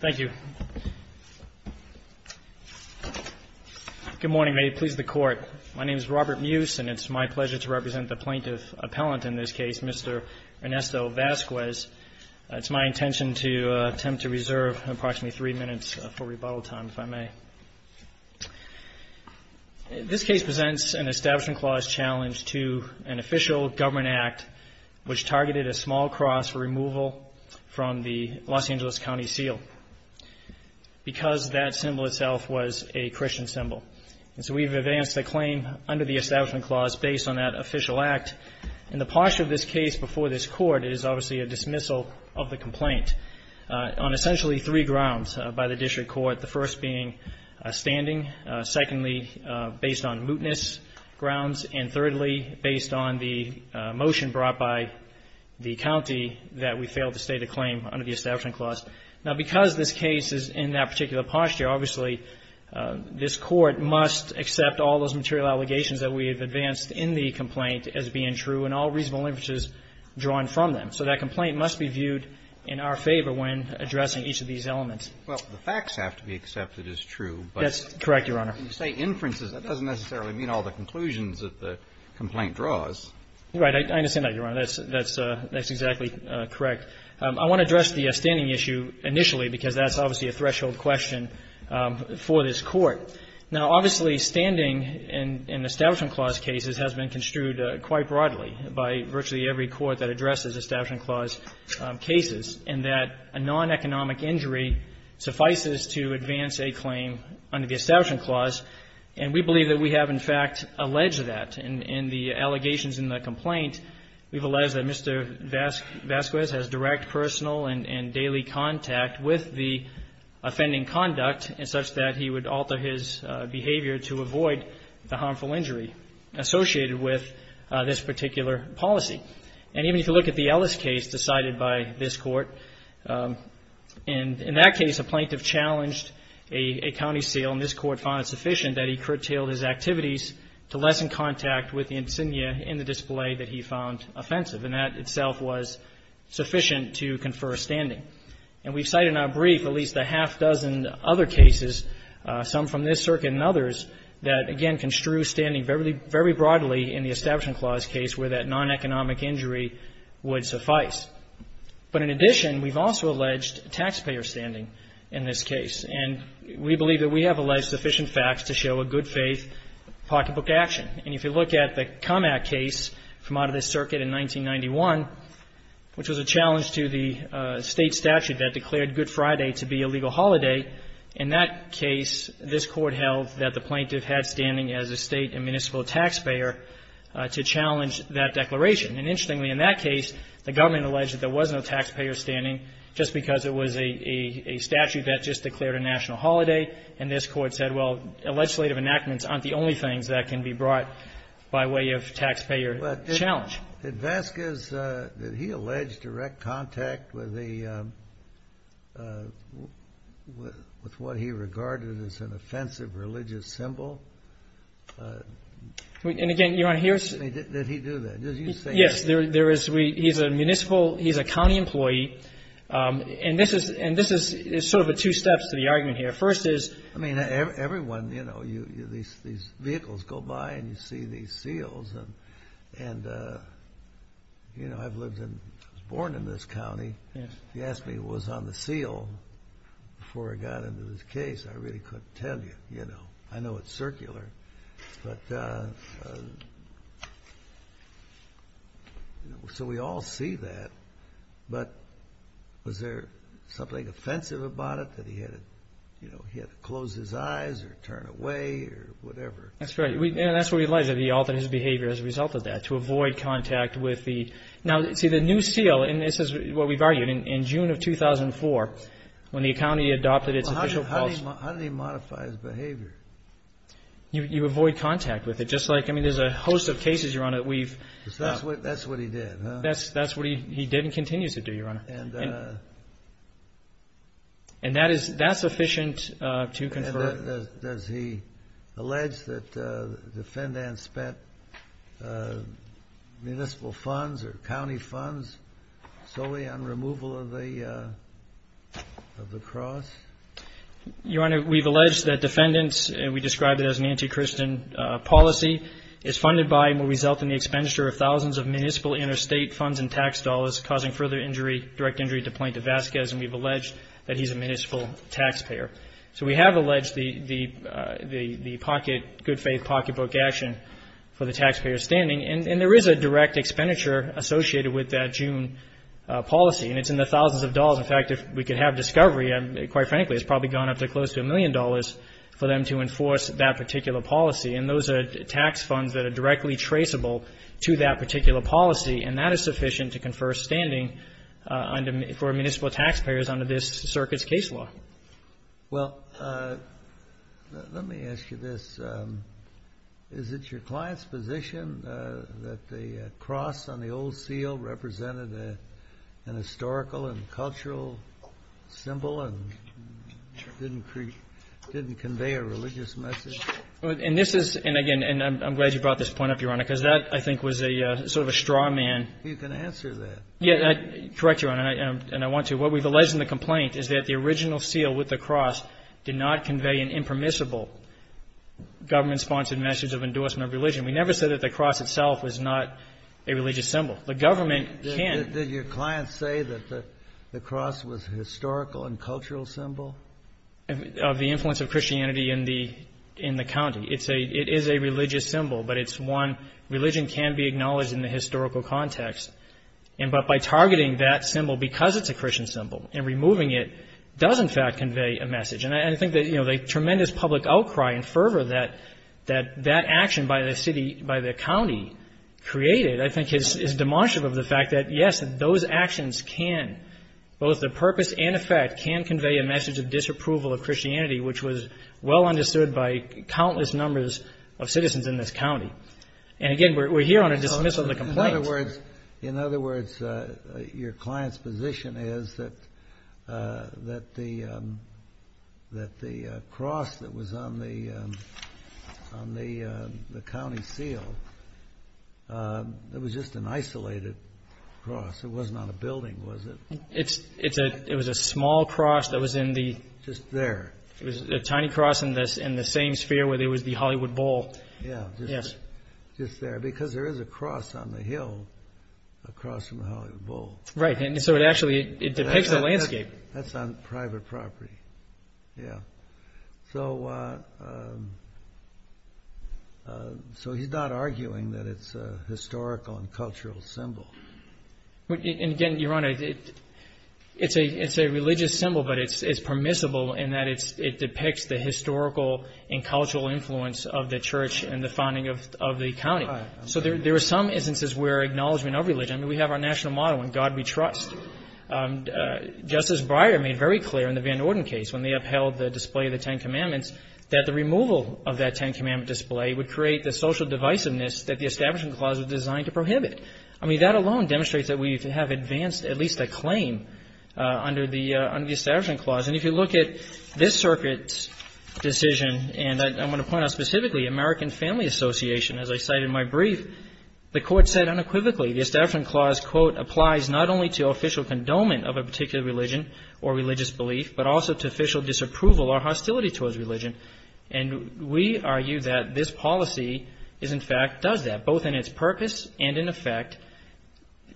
Thank you. Good morning. May it please the Court. My name is Robert Muse, and it's my pleasure to represent the plaintiff appellant in this case, Mr. Ernesto Vasquez. It's my intention to attempt to reserve approximately three minutes for rebuttal time, if I may. This case presents an Establishment Clause challenge to an official government act which targeted a small cross for removal from the Los Angeles County seal, because that symbol itself was a Christian symbol. And so we've advanced the claim under the Establishment Clause based on that official act. And the posture of this case before this Court is obviously a dismissal of the complaint on essentially three grounds by the district court, the first being a standing, secondly, based on mootness grounds, and thirdly, based on the motion brought by the county that we failed to state a claim under the Establishment Clause. Now, because this case is in that particular posture, obviously, this Court must accept all those material allegations that we have advanced in the complaint as being true and all reasonable inferences drawn from them. So that complaint must be viewed in our favor when addressing each of these elements. Well, the facts have to be accepted as true. That's correct, Your Honor. When you say inferences, that doesn't necessarily mean all the conclusions that the complaint draws. Right. I understand that, Your Honor. That's exactly correct. I want to address the standing issue initially, because that's obviously a threshold question for this Court. Now, obviously, standing in Establishment Clause cases has been construed quite broadly by virtually every court that addresses Establishment Clause cases, and that a non-economic injury suffices to advance a claim under the Establishment Clause. And we believe that we have, in fact, alleged that. In the allegations in the complaint, we've alleged that Mr. Vasquez has direct personal and daily contact with the offending conduct such that he would alter his behavior to avoid the harmful injury associated with this particular policy. And even if you look at the Ellis case decided by this Court, in that case, a plaintiff challenged a county seal, and this Court found it sufficient that he curtailed his activities to lessen contact with the insignia in the display that he found offensive. And that itself was sufficient to confer a standing. And we've cited in our brief at least a half dozen other cases, some from this circuit and others, that, again, construe standing very broadly in the Establishment Clause case where that non-economic injury would suffice. But in addition, we've also alleged taxpayer standing in this case. And we believe that we have alleged sufficient facts to show a good-faith pocketbook action. And if you look at the Come Act case from out of this circuit in 1991, which was a challenge to the State statute that declared Good Friday to be a legal holiday, in that case, this Court held that the plaintiff had standing as a State and municipal taxpayer to challenge that declaration. And interestingly, in that case, the government alleged that there was no taxpayer standing just because it was a statute that just declared a national holiday. And this Court said, well, legislative enactments aren't the only things that can be brought by way of taxpayer challenge. Did Vasquez, did he allege direct contact with what he regarded as an offensive religious symbol? And, again, Your Honor, here's... Did he do that? Yes, there is. He's a municipal. He's a county employee. And this is sort of the two steps to the argument here. First is... I mean, everyone, you know, these vehicles go by and you see these seals. And, you know, I've lived in... I was born in this county. If you asked me what was on the seal before I got into this case, I really couldn't tell you, you know. I know it's circular. But... So we all see that. But was there something offensive about it that he had to, you know, he had to close his eyes or turn away or whatever? That's right. And that's where we realize that he altered his behavior as a result of that, to avoid contact with the... Now, see, the new seal, and this is what we've argued, in June of 2004, when the county adopted its official clause... Well, how did he modify his behavior? You avoid contact with it. Just like, I mean, there's a host of cases, Your Honor, that we've... That's what he did, huh? That's what he did and continues to do, Your Honor. And... And that's sufficient to confer... Does he allege that defendants spent municipal funds or county funds solely on removal of the cross? Your Honor, we've alleged that defendants, and we describe it as an anti-Christian policy, is funded by and will result in the expenditure of thousands of municipal interstate funds and tax dollars, causing further injury, direct injury to Plaintiff Vasquez. And we've alleged that he's a municipal taxpayer. So we have alleged the pocket, good faith pocketbook action for the taxpayer standing. And there is a direct expenditure associated with that June policy, and it's in the thousands of dollars. In fact, if we could have discovery, quite frankly, it's probably gone up to close to a million dollars for them to enforce that particular policy. And those are tax funds that are directly traceable to that particular policy, and that is sufficient to confer standing for municipal taxpayers under this circuit's case law. Well, let me ask you this. Is it your client's position that the cross on the old seal represented an historical and cultural symbol and didn't convey a religious message? And this is, and again, and I'm glad you brought this point up, Your Honor, because that, I think, was a sort of a straw man. You can answer that. Correct, Your Honor, and I want to. What we've alleged in the complaint is that the original seal with the cross did not convey an impermissible government-sponsored message of endorsement of religion. We never said that the cross itself was not a religious symbol. The government can. Did your client say that the cross was a historical and cultural symbol? Of the influence of Christianity in the county. It is a religious symbol, but it's one religion can be acknowledged in the historical context. But by targeting that symbol because it's a Christian symbol and removing it does, in fact, convey a message. And I think the tremendous public outcry and fervor that that action by the county created, I think, is demonstrative of the fact that, yes, those actions can, both the purpose and effect, can convey a message of disapproval of Christianity, which was well understood by countless numbers of citizens in this county. And, again, we're here on a dismissal of the complaint. In other words, your client's position is that the cross that was on the county seal, it was just an isolated cross. It wasn't on a building, was it? It was a small cross that was in the... Just there. It was a tiny cross in the same sphere where there was the Hollywood Bowl. Yeah, just there. Because there is a cross on the hill, a cross from the Hollywood Bowl. Right, and so it actually depicts the landscape. That's on private property, yeah. So he's not arguing that it's a historical and cultural symbol. And, again, Your Honor, it's a religious symbol, but it's permissible in that it depicts the historical and cultural influence of the church and the founding of the county. Right. So there are some instances where acknowledgement of religion, we have our national motto, in God we trust. Justice Breyer made very clear in the Van Norden case, when they upheld the display of the Ten Commandments, that the removal of that Ten Commandment display would create the social divisiveness that the Establishment Clause was designed to prohibit. I mean, that alone demonstrates that we have advanced at least a claim under the Establishment Clause. And if you look at this Circuit's decision, and I'm going to point out specifically American Family Association, as I cite in my brief, the Court said unequivocally the Establishment Clause, quote, applies not only to official condonement of a particular religion or religious belief, but also to official disapproval or hostility towards religion. And we argue that this policy in fact does that, both in its purpose and in effect,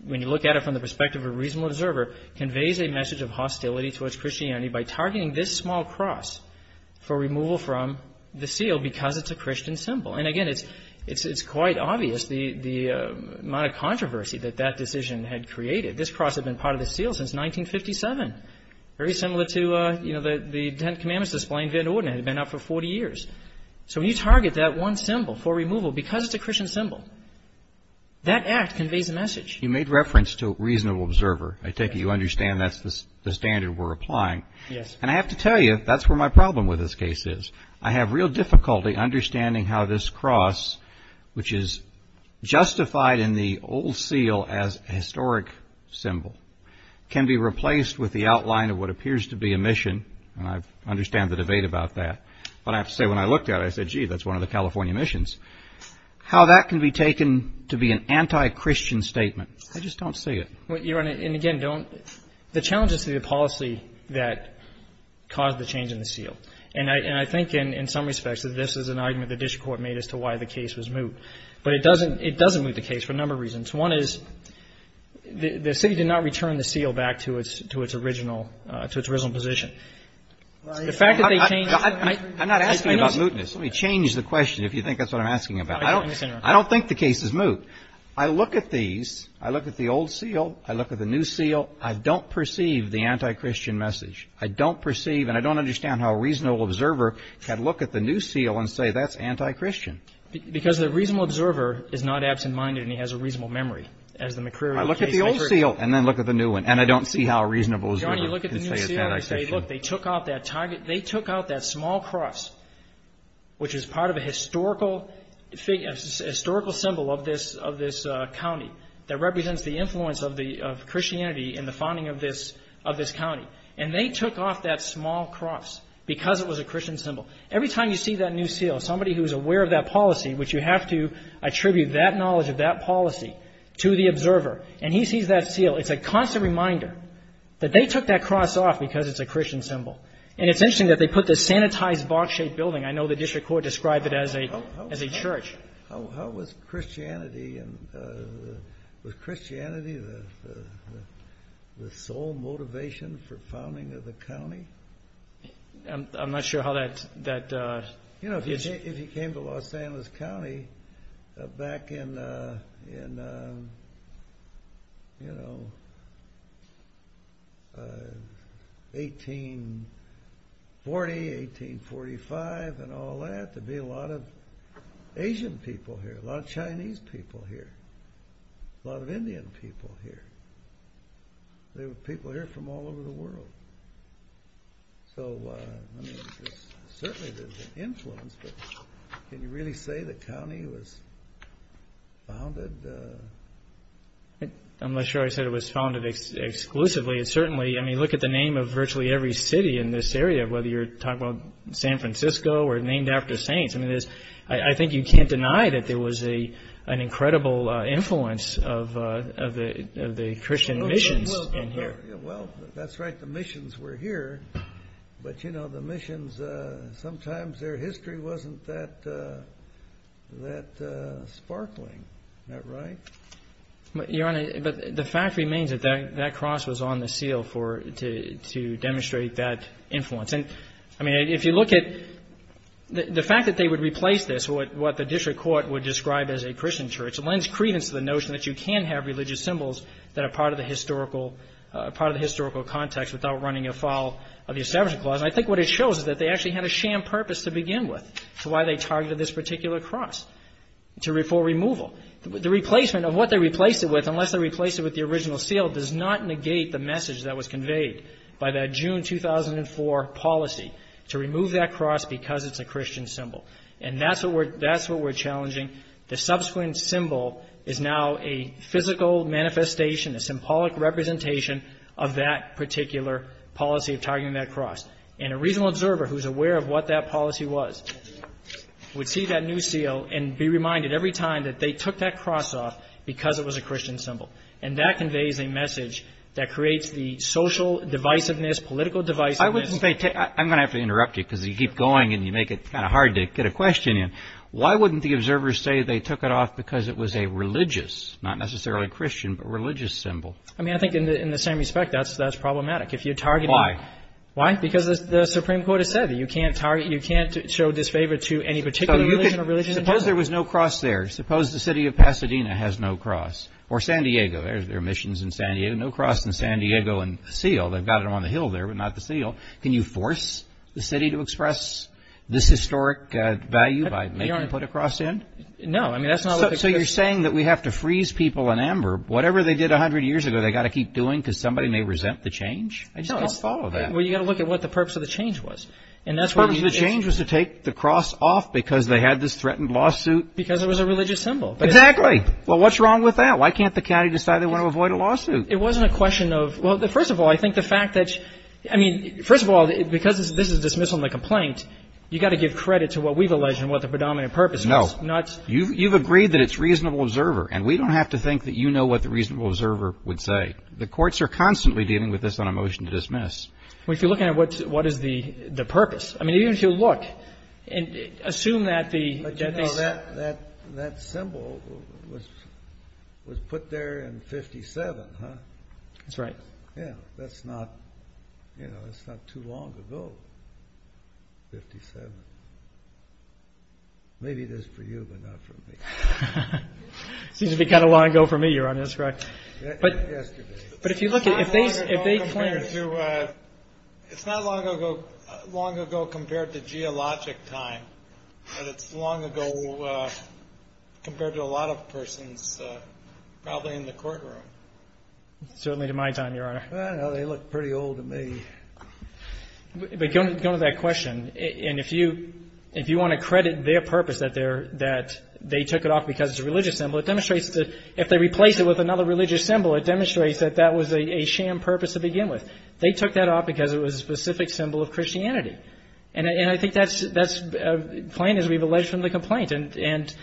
when you look at it from the perspective of a reasonable observer, conveys a message of hostility towards Christianity by targeting this small cross for removal from the seal because it's a Christian symbol. And again, it's quite obvious the amount of controversy that that decision had created. This cross had been part of the seal since 1957, very similar to the Ten Commandments display in Van Norden. It had been up for 40 years. So when you target that one symbol for removal because it's a Christian symbol, that act conveys a message. You made reference to a reasonable observer. I take it you understand that's the standard we're applying. Yes. And I have to tell you, that's where my problem with this case is. I have real difficulty understanding how this cross, which is justified in the old seal as a historic symbol, can be replaced with the outline of what appears to be a mission. And I understand the debate about that. But I have to say, when I looked at it, I said, gee, that's one of the California missions. How that can be taken to be an anti-Christian statement, I just don't see it. Your Honor, and again, the challenge is the policy that caused the change in the seal. And I think in some respects that this is an argument the district court made as to why the case was moved. But it doesn't move the case for a number of reasons. One is the city did not return the seal back to its original position. The fact that they changed. I'm not asking about mootness. Let me change the question, if you think that's what I'm asking about. I don't think the case is moot. I look at these. I look at the old seal. I look at the new seal. I don't perceive the anti-Christian message. I don't perceive and I don't understand how a reasonable observer can look at the new seal and say that's anti-Christian. Because the reasonable observer is not absent-minded and he has a reasonable memory. As the McCreary case. I look at the old seal and then look at the new one. And I don't see how a reasonable observer can say it's anti-Christian. They took out that small cross, which is part of a historical symbol of this county that represents the influence of Christianity in the founding of this county. And they took off that small cross because it was a Christian symbol. Every time you see that new seal, somebody who is aware of that policy, which you have to attribute that knowledge of that policy to the observer, and he sees that seal, it's a constant reminder that they took that cross off because it's a Christian symbol. And it's interesting that they put this sanitized box-shaped building. I know the district court described it as a church. How was Christianity the sole motivation for founding of the county? I'm not sure how that. If you came to Los Angeles County back in 1840, 1845 and all that, there'd be a lot of Asian people here, a lot of Chinese people here, a lot of Indian people here. There were people here from all over the world. So, I mean, certainly there's an influence, but can you really say the county was founded? I'm not sure I said it was founded exclusively. Certainly, I mean, look at the name of virtually every city in this area, whether you're talking about San Francisco or named after saints. I mean, I think you can't deny that there was an incredible influence of the Christian missions in here. Well, that's right. The missions were here. But, you know, the missions, sometimes their history wasn't that sparkling. Isn't that right? Your Honor, the fact remains that that cross was on the seal to demonstrate that influence. And, I mean, if you look at the fact that they would replace this, what the district court would describe as a Christian church, lends credence to the notion that you can have religious symbols that are part of the historical context without running afoul of the Establishment Clause. And I think what it shows is that they actually had a sham purpose to begin with to why they targeted this particular cross for removal. The replacement of what they replaced it with, unless they replaced it with the original seal, does not negate the message that was conveyed by that June 2004 policy to remove that cross because it's a Christian symbol. And that's what we're challenging. The subsequent symbol is now a physical manifestation, a symbolic representation of that particular policy of targeting that cross. And a reasonable observer who's aware of what that policy was would see that new seal and be reminded every time that they took that cross off because it was a Christian symbol. And that conveys a message that creates the social divisiveness, political divisiveness. I'm going to have to interrupt you because you keep going and you make it kind of hard to get a question in. Why wouldn't the observers say they took it off because it was a religious, not necessarily Christian, but religious symbol? I mean, I think in the same respect, that's problematic. Why? Why? Because the Supreme Court has said that you can't show disfavor to any particular religion. Suppose there was no cross there. Suppose the city of Pasadena has no cross or San Diego. There are missions in San Diego. No cross in San Diego and seal. They've got it on the hill there but not the seal. Can you force the city to express this historic value by making them put a cross in? No. So you're saying that we have to freeze people in amber. Whatever they did 100 years ago, they've got to keep doing because somebody may resent the change? I just can't follow that. Well, you've got to look at what the purpose of the change was. The purpose of the change was to take the cross off because they had this threatened lawsuit. Because it was a religious symbol. Exactly. Well, what's wrong with that? Why can't the county decide they want to avoid a lawsuit? It wasn't a question of – well, first of all, I think the fact that – I mean, first of all, because this is a dismissal and a complaint, you've got to give credit to what we've alleged and what the predominant purpose was. No. You've agreed that it's reasonable observer. And we don't have to think that you know what the reasonable observer would say. The courts are constantly dealing with this on a motion to dismiss. Well, if you're looking at what is the purpose. I mean, even if you look and assume that the – But, you know, that symbol was put there in 57, huh? That's right. Yeah, that's not – you know, that's not too long ago, 57. Maybe it is for you, but not for me. Seems to be kind of long ago for me, Your Honor. That's correct. Yesterday. But if you look at – It's not long ago compared to – it's not long ago compared to geologic time, but it's long ago compared to a lot of persons probably in the courtroom. Certainly to my time, Your Honor. I don't know. They look pretty old to me. But going to that question, and if you want to credit their purpose that they took it off because it's a religious symbol, it demonstrates that if they replace it with another religious symbol, it demonstrates that that was a sham purpose to begin with. They took that off because it was a specific symbol of Christianity. And I think that's a claim as we've alleged from the complaint. And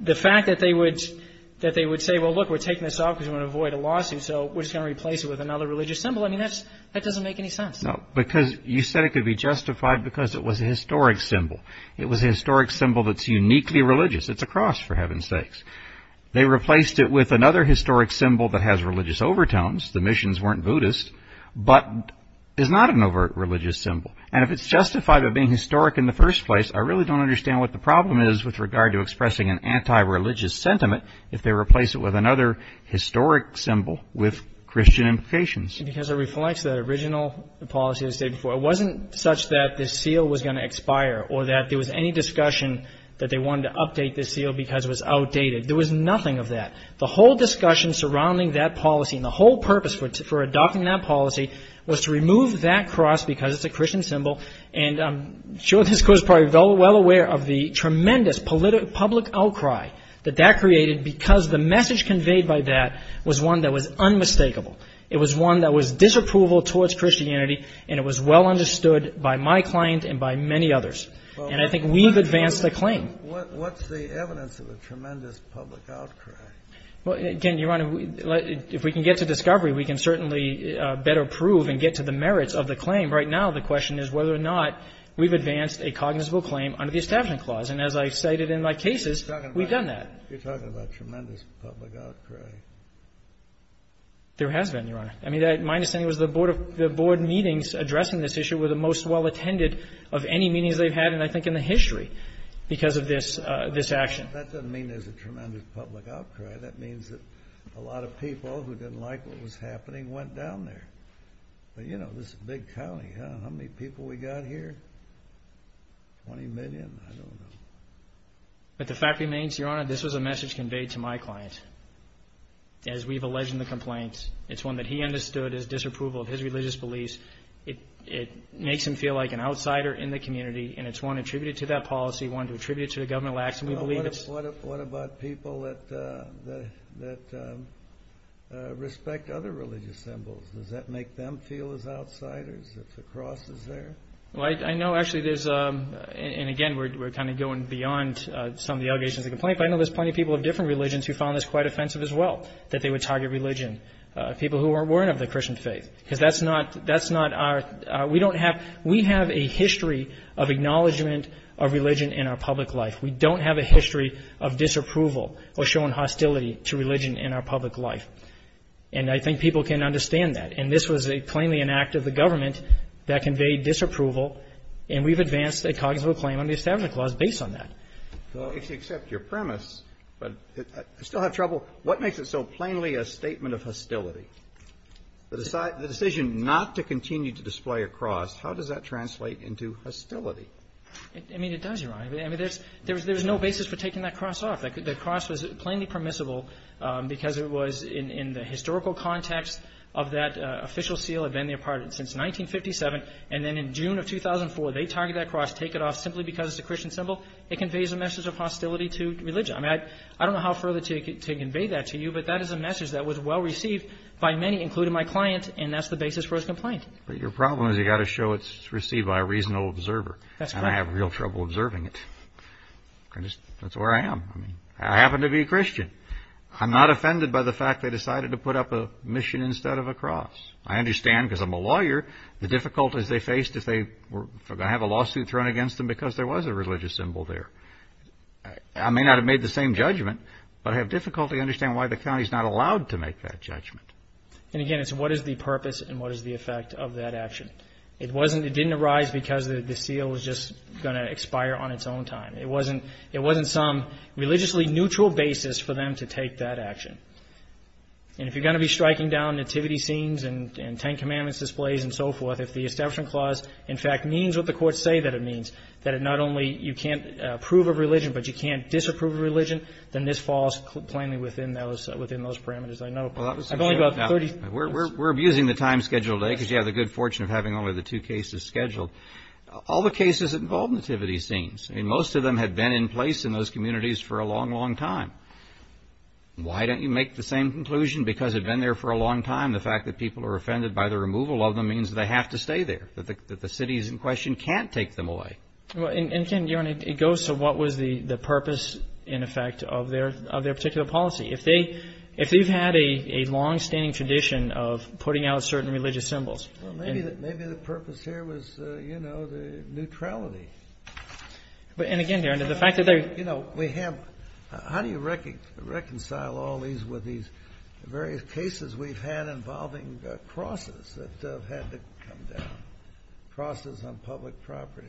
the fact that they would say, well, look, we're taking this off because we want to avoid a lawsuit, so we're just going to replace it with another religious symbol, I mean, that doesn't make any sense. No, because you said it could be justified because it was a historic symbol. It was a historic symbol that's uniquely religious. It's a cross, for heaven's sakes. They replaced it with another historic symbol that has religious overtones. The missions weren't Buddhist, but is not an overt religious symbol. And if it's justified by being historic in the first place, I really don't understand what the problem is with regard to expressing an anti-religious sentiment if they replace it with another historic symbol with Christian implications. Because it reflects the original policy as stated before. It wasn't such that the seal was going to expire or that there was any discussion that they wanted to update the seal because it was outdated. There was nothing of that. The whole discussion surrounding that policy and the whole purpose for adopting that policy was to remove that cross because it's a Christian symbol. And I'm sure this Court is probably well aware of the tremendous public outcry that that created because the message conveyed by that was one that was unmistakable. It was one that was disapproval towards Christianity, and it was well understood by my client and by many others. And I think we've advanced the claim. Kennedy. What's the evidence of a tremendous public outcry? Well, again, Your Honor, if we can get to discovery, we can certainly better prove and get to the merits of the claim. Right now the question is whether or not we've advanced a cognizable claim under the Establishment Clause. And as I cited in my cases, we've done that. You're talking about tremendous public outcry. There has been, Your Honor. I mean, my understanding was the Board meetings addressing this issue were the most well attended of any meetings they've had, and I think in the history, because of this action. That doesn't mean there's a tremendous public outcry. That means that a lot of people who didn't like what was happening went down there. But, you know, this is a big county. How many people we got here? Twenty million? I don't know. But the fact remains, Your Honor, this was a message conveyed to my client. As we've alleged in the complaints, it's one that he understood as disapproval of his religious beliefs. It makes him feel like an outsider in the community, and it's one attributed to that policy, one attributed to the governmental action. What about people that respect other religious symbols? Does that make them feel as outsiders if the cross is there? Well, I know actually there's, and again, we're kind of going beyond some of the allegations in the complaint, but I know there's plenty of people of different religions who found this quite offensive as well, that they would target religion, people who weren't of the Christian faith. Because that's not our, we don't have, we have a history of acknowledgement of religion in our public life. We don't have a history of disapproval or showing hostility to religion in our public life. And I think people can understand that. And this was a plainly an act of the government that conveyed disapproval, and we've advanced a cognizant claim under the Establishment Clause based on that. Well, if you accept your premise, but I still have trouble. What makes it so plainly a statement of hostility? The decision not to continue to display a cross, how does that translate into hostility? I mean, it does, Your Honor. I mean, there's no basis for taking that cross off. The cross was plainly permissible because it was, in the historical context of that official seal, had been there since 1957, and then in June of 2004, they targeted that cross, take it off simply because it's a Christian symbol. It conveys a message of hostility to religion. I mean, I don't know how further to convey that to you, but that is a message that was well received by many, including my client, and that's the basis for his complaint. But your problem is you've got to show it's received by a reasonable observer. That's correct. I mean, I happen to be a Christian. I'm not offended by the fact they decided to put up a mission instead of a cross. I understand because I'm a lawyer the difficulties they faced if they were going to have a lawsuit thrown against them because there was a religious symbol there. I may not have made the same judgment, but I have difficulty understanding why the county is not allowed to make that judgment. And, again, it's what is the purpose and what is the effect of that action. It didn't arise because the seal was just going to expire on its own time. It wasn't some religiously neutral basis for them to take that action. And if you're going to be striking down nativity scenes and Ten Commandments displays and so forth, if the Establishment Clause, in fact, means what the courts say that it means, that it not only you can't approve of religion but you can't disapprove of religion, then this falls plainly within those parameters, I know. I've only got 30 minutes. We're abusing the time schedule today because you have the good fortune of having only the two cases scheduled. All the cases involve nativity scenes. I mean, most of them have been in place in those communities for a long, long time. Why don't you make the same conclusion? Because they've been there for a long time. The fact that people are offended by the removal of them means they have to stay there, that the cities in question can't take them away. And, Ken, it goes to what was the purpose, in effect, of their particular policy. If they've had a longstanding tradition of putting out certain religious symbols. Well, maybe the purpose here was, you know, the neutrality. And, again, Darren, the fact that they're... You know, we have... How do you reconcile all these with these various cases we've had involving crosses that have had to come down, crosses on public property?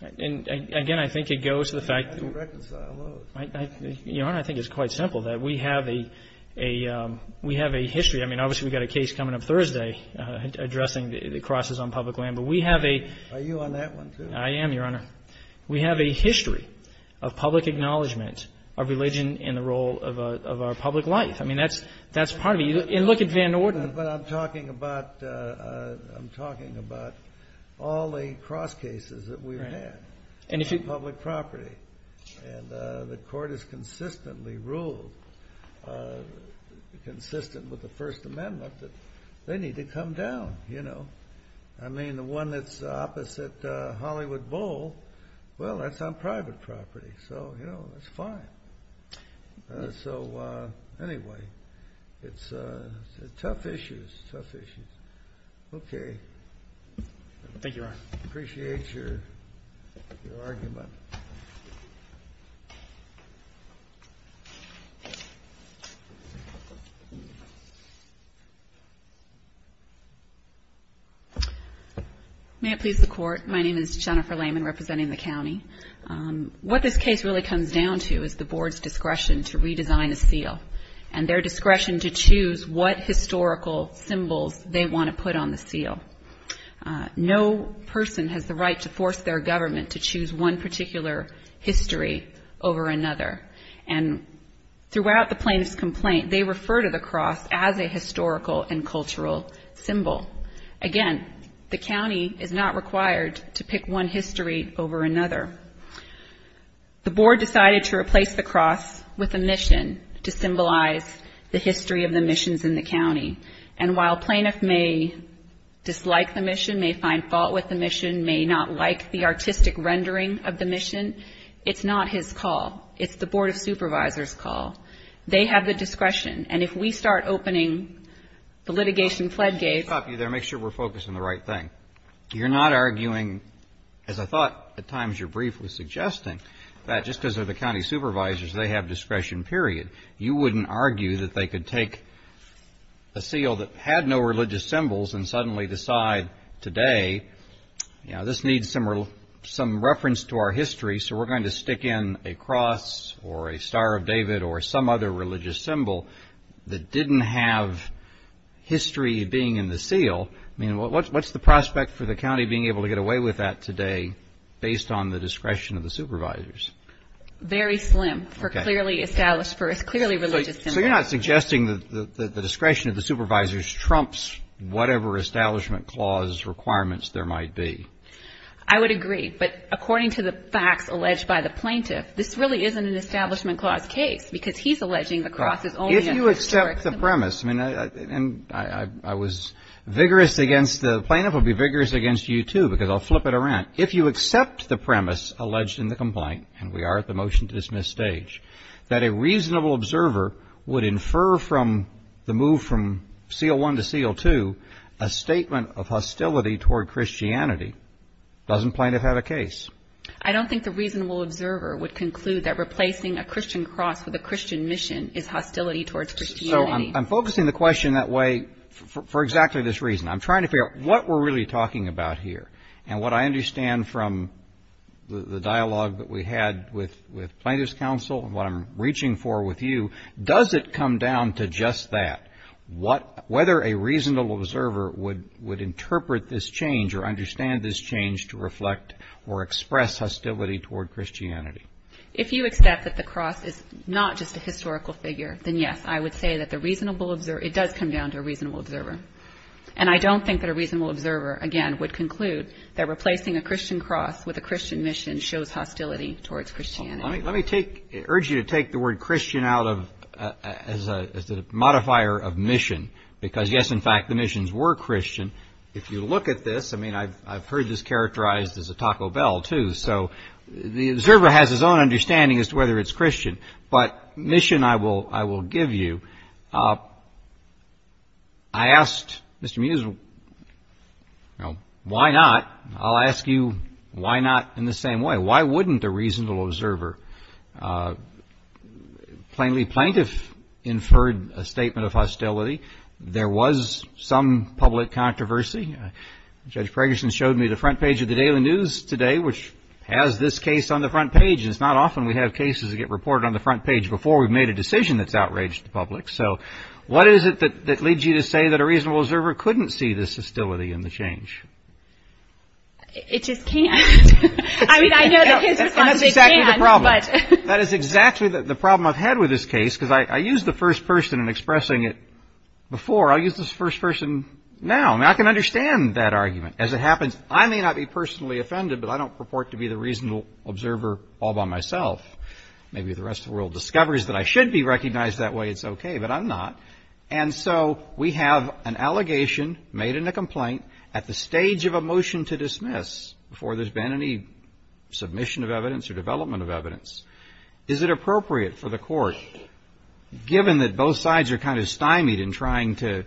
And, again, I think it goes to the fact... How do you reconcile those? Darren, I think it's quite simple, that we have a history. I mean, obviously we've got a case coming up Thursday addressing the crosses on public land. But we have a... Are you on that one, too? I am, Your Honor. We have a history of public acknowledgment of religion in the role of our public life. I mean, that's part of it. And look at Van Orden. But I'm talking about all the cross cases that we've had on public property. And the court has consistently ruled, consistent with the First Amendment, that they need to come down, you know. I mean, the one that's opposite Hollywood Bowl, well, that's on private property. So, you know, that's fine. So, anyway, it's tough issues, tough issues. Okay. Thank you, Your Honor. Appreciate your argument. May it please the Court. My name is Jennifer Lehman, representing the county. What this case really comes down to is the Board's discretion to redesign the seal and their discretion to choose what historical symbols they want to put on the seal. No person has the right to force their government to choose one particular history over another. And throughout the plaintiff's complaint, they refer to the cross as a historical and cultural symbol. Again, the county is not required to pick one history over another. The Board decided to replace the cross with a mission to symbolize the history of the missions in the county. And while plaintiff may dislike the mission, may find fault with the mission, may not like the artistic rendering of the mission, it's not his call. It's the Board of Supervisors' call. They have the discretion. And if we start opening the litigation floodgates. Stop you there. Make sure we're focusing on the right thing. You're not arguing, as I thought at times your brief was suggesting, that just because they're the county supervisors, they have discretion, period. You wouldn't argue that they could take a seal that had no religious symbols and suddenly decide today, you know, this needs some reference to our history, so we're going to stick in a cross or a Star of David or some other religious symbol that didn't have history being in the seal. I mean, what's the prospect for the county being able to get away with that today based on the discretion of the supervisors? Very slim for clearly established, for a clearly religious symbol. So you're not suggesting that the discretion of the supervisors trumps whatever establishment clause requirements there might be? I would agree. But according to the facts alleged by the plaintiff, this really isn't an establishment clause case because he's alleging the cross is only a historic symbol. If you accept the premise, and I was vigorous against the plaintiff. I'll be vigorous against you, too, because I'll flip it around. If you accept the premise alleged in the complaint, and we are at the motion to dismiss stage, that a reasonable observer would infer from the move from seal one to seal two a statement of hostility toward Christianity, doesn't plaintiff have a case? I don't think the reasonable observer would conclude that replacing a Christian cross with a Christian mission is hostility towards Christianity. So I'm focusing the question that way for exactly this reason. I'm trying to figure out what we're really talking about here and what I understand from the dialogue that we had with plaintiff's counsel and what I'm reaching for with you, does it come down to just that? Whether a reasonable observer would interpret this change or understand this change to reflect or express hostility toward Christianity. If you accept that the cross is not just a historical figure, then yes, I would say that it does come down to a reasonable observer. And I don't think that a reasonable observer, again, would conclude that replacing a Christian cross with a Christian mission shows hostility towards Christianity. Let me urge you to take the word Christian out as a modifier of mission, because yes, in fact, the missions were Christian. If you look at this, I mean, I've heard this characterized as a Taco Bell, too, so the observer has his own understanding as to whether it's Christian. But mission I will give you. I asked Mr. Mews, you know, why not? I'll ask you why not in the same way. Why wouldn't a reasonable observer? Plainly plaintiff inferred a statement of hostility. There was some public controversy. Judge Ferguson showed me the front page of the Daily News today, which has this case on the front page. It's not often we have cases that get reported on the front page before we've made a decision that's outraged the public. So what is it that leads you to say that a reasonable observer couldn't see this hostility in the change? It just can't. I mean, I know that his response is it can't. That's exactly the problem. That is exactly the problem I've had with this case, because I used the first person in expressing it before. I'll use this first person now. I mean, I can understand that argument. As it happens, I may not be personally offended, but I don't purport to be the reasonable observer all by myself. Maybe if the rest of the world discovers that I should be recognized that way, it's okay. But I'm not. And so we have an allegation made in the complaint at the stage of a motion to dismiss before there's been any submission of evidence or development of evidence. Is it appropriate for the Court, given that both sides are kind of stymied in trying to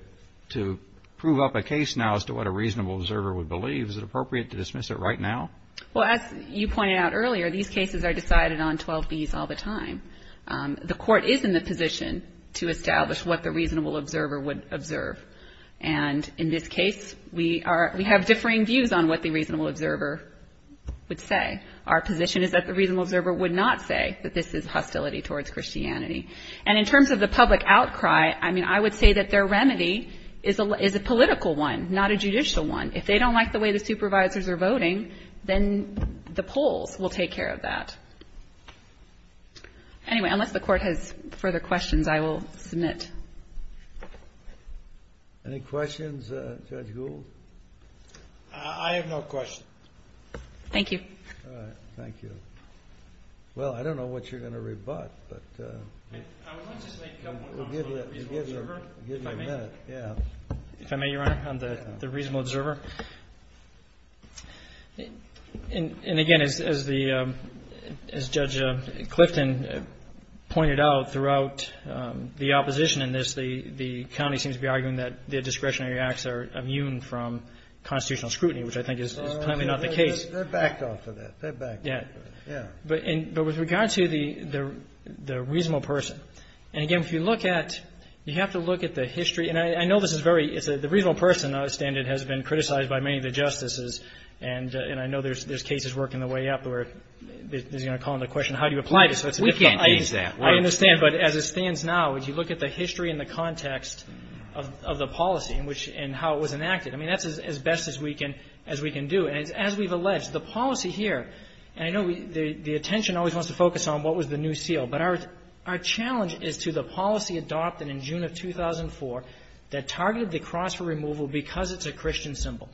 prove up a case now as to what a reasonable observer would believe, is it appropriate to dismiss it right now? Well, as you pointed out earlier, these cases are decided on 12Bs all the time. The Court is in the position to establish what the reasonable observer would observe. And in this case, we have differing views on what the reasonable observer would say. Our position is that the reasonable observer would not say that this is hostility towards Christianity. And in terms of the public outcry, I mean, I would say that their remedy is a political one, not a judicial one. If they don't like the way the supervisors are voting, then the polls will take care of that. Anyway, unless the Court has further questions, I will submit. Any questions, Judge Gould? I have no questions. Thank you. All right. Thank you. Well, I don't know what you're going to rebut, but we'll give you a minute. If I may, Your Honor, on the reasonable observer. And again, as Judge Clifton pointed out throughout the opposition in this, the county seems to be arguing that their discretionary acts are immune from constitutional scrutiny, which I think is clearly not the case. They're backed off of that. They're backed off of it, yeah. But with regard to the reasonable person, and again, if you look at you have to look at the history and I know this is very, the reasonable person, I understand it, has been criticized by many of the justices, and I know there's cases working their way up where they're going to call into question how do you apply this. We can't change that. I understand, but as it stands now, if you look at the history and the context of the policy and how it was enacted, I mean, that's as best as we can do. And as we've alleged, the policy here, and I know the attention always wants to focus on what was the new seal, but our challenge is to the policy adopted in June of 2004 that targeted the cross for removal because it's a Christian symbol.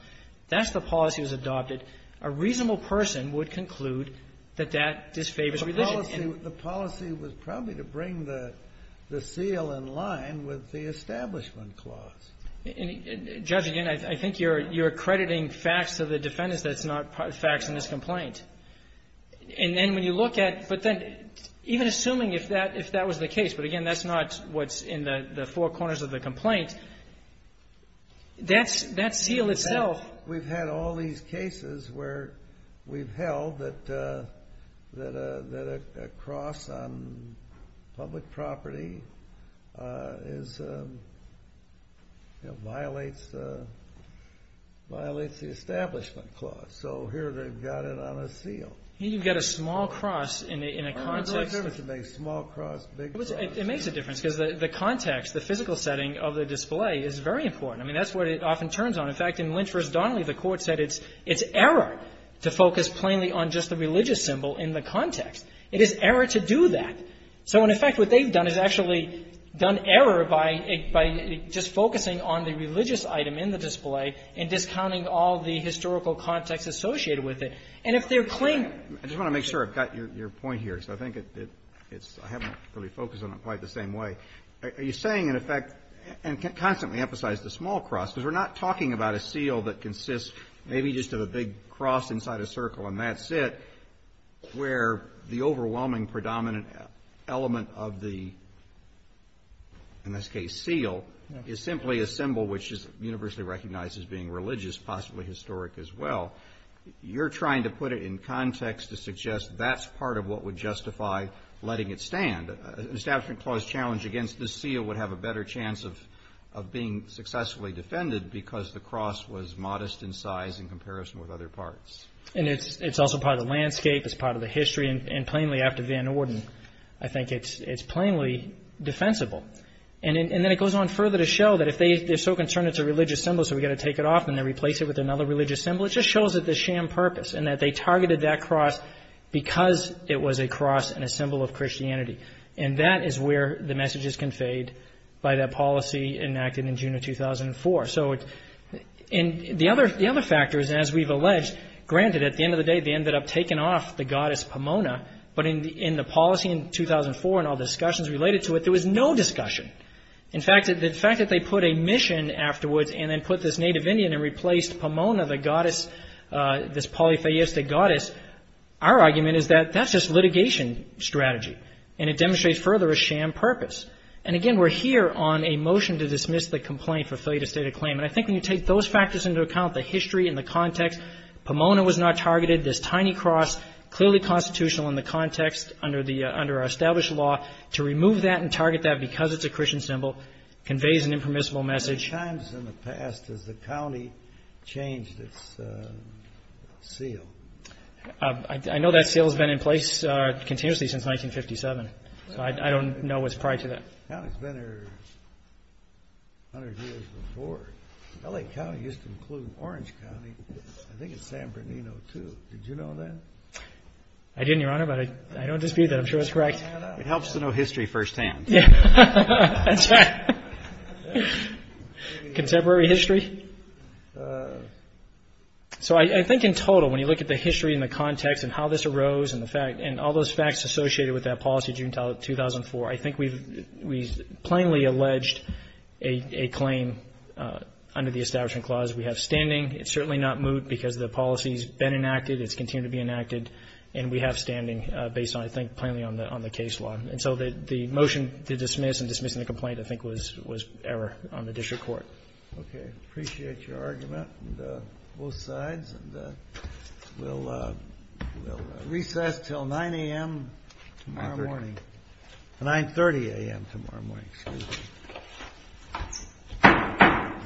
That's the policy that was adopted. A reasonable person would conclude that that disfavors religion. The policy was probably to bring the seal in line with the Establishment Clause. And, Judge, again, I think you're accrediting facts to the defendants that's not facts in this complaint. And then when you look at, but then even assuming if that was the case, but, again, that's not what's in the four corners of the complaint, that seal itself. We've had all these cases where we've held that a cross on public property violates the Establishment Clause. So here they've got it on a seal. You've got a small cross in a context. It makes a difference because the context, the physical setting of the display, is very important. I mean, that's what it often turns on. In fact, in Lynch v. Donnelly, the court said it's error to focus plainly on just the religious symbol in the context. It is error to do that. So, in effect, what they've done is actually done error by just focusing on the religious item in the display and discounting all the historical context associated with it. And if they're plainly ---- I just want to make sure I've got your point here, because I think it's, I haven't really focused on it quite the same way. Are you saying, in effect, and constantly emphasize the small cross, because we're not talking about a seal that consists maybe just of a big cross inside a circle and that's it, where the overwhelming predominant element of the, in this case, seal is simply a symbol which is universally recognized as being religious, possibly historic as well. You're trying to put it in context to suggest that's part of what would justify letting it stand. An establishment clause challenge against the seal would have a better chance of being successfully defended because the cross was modest in size in comparison with other parts. And it's also part of the landscape. It's part of the history. And plainly, after Van Orden, I think it's plainly defensible. And then it goes on further to show that if they're so concerned it's a religious symbol so we've got to take it off and then replace it with another religious symbol, it just shows that the sham purpose and that they targeted that cross because it was a cross and a symbol of Christianity. And that is where the message is conveyed by that policy enacted in June of 2004. So the other factor is, as we've alleged, granted, at the end of the day, they ended up taking off the goddess Pomona, but in the policy in 2004 and all discussion. In fact, the fact that they put a mission afterwards and then put this native Indian and replaced Pomona, the goddess, this polytheistic goddess, our argument is that that's just litigation strategy. And it demonstrates further a sham purpose. And, again, we're here on a motion to dismiss the complaint for failure to state a claim. And I think when you take those factors into account, the history and the context, Pomona was not targeted, this tiny cross, clearly constitutional in the context under our established law. To remove that and target that because it's a Christian symbol conveys an impermissible message. How many times in the past has the county changed its seal? I know that seal has been in place continuously since 1957. So I don't know what's prior to that. The county's been here 100 years before. L.A. County used to include Orange County. I think it's San Bernardino, too. Did you know that? I didn't, Your Honor, but I don't dispute that. I'm sure it's correct. It helps to know history firsthand. Yeah. That's right. Contemporary history. So I think in total, when you look at the history and the context and how this arose and the fact and all those facts associated with that policy during 2004, I think we've plainly alleged a claim under the Establishment Clause. We have standing. It's certainly not moot because the policy's been enacted. It's continued to be enacted. And we have standing based on, I think, plainly on the case law. And so the motion to dismiss and dismissing the complaint, I think, was error on the district court. Okay. Appreciate your argument on both sides. And we'll recess until 9 a.m. tomorrow morning. 9.30 a.m. tomorrow morning. Excuse me.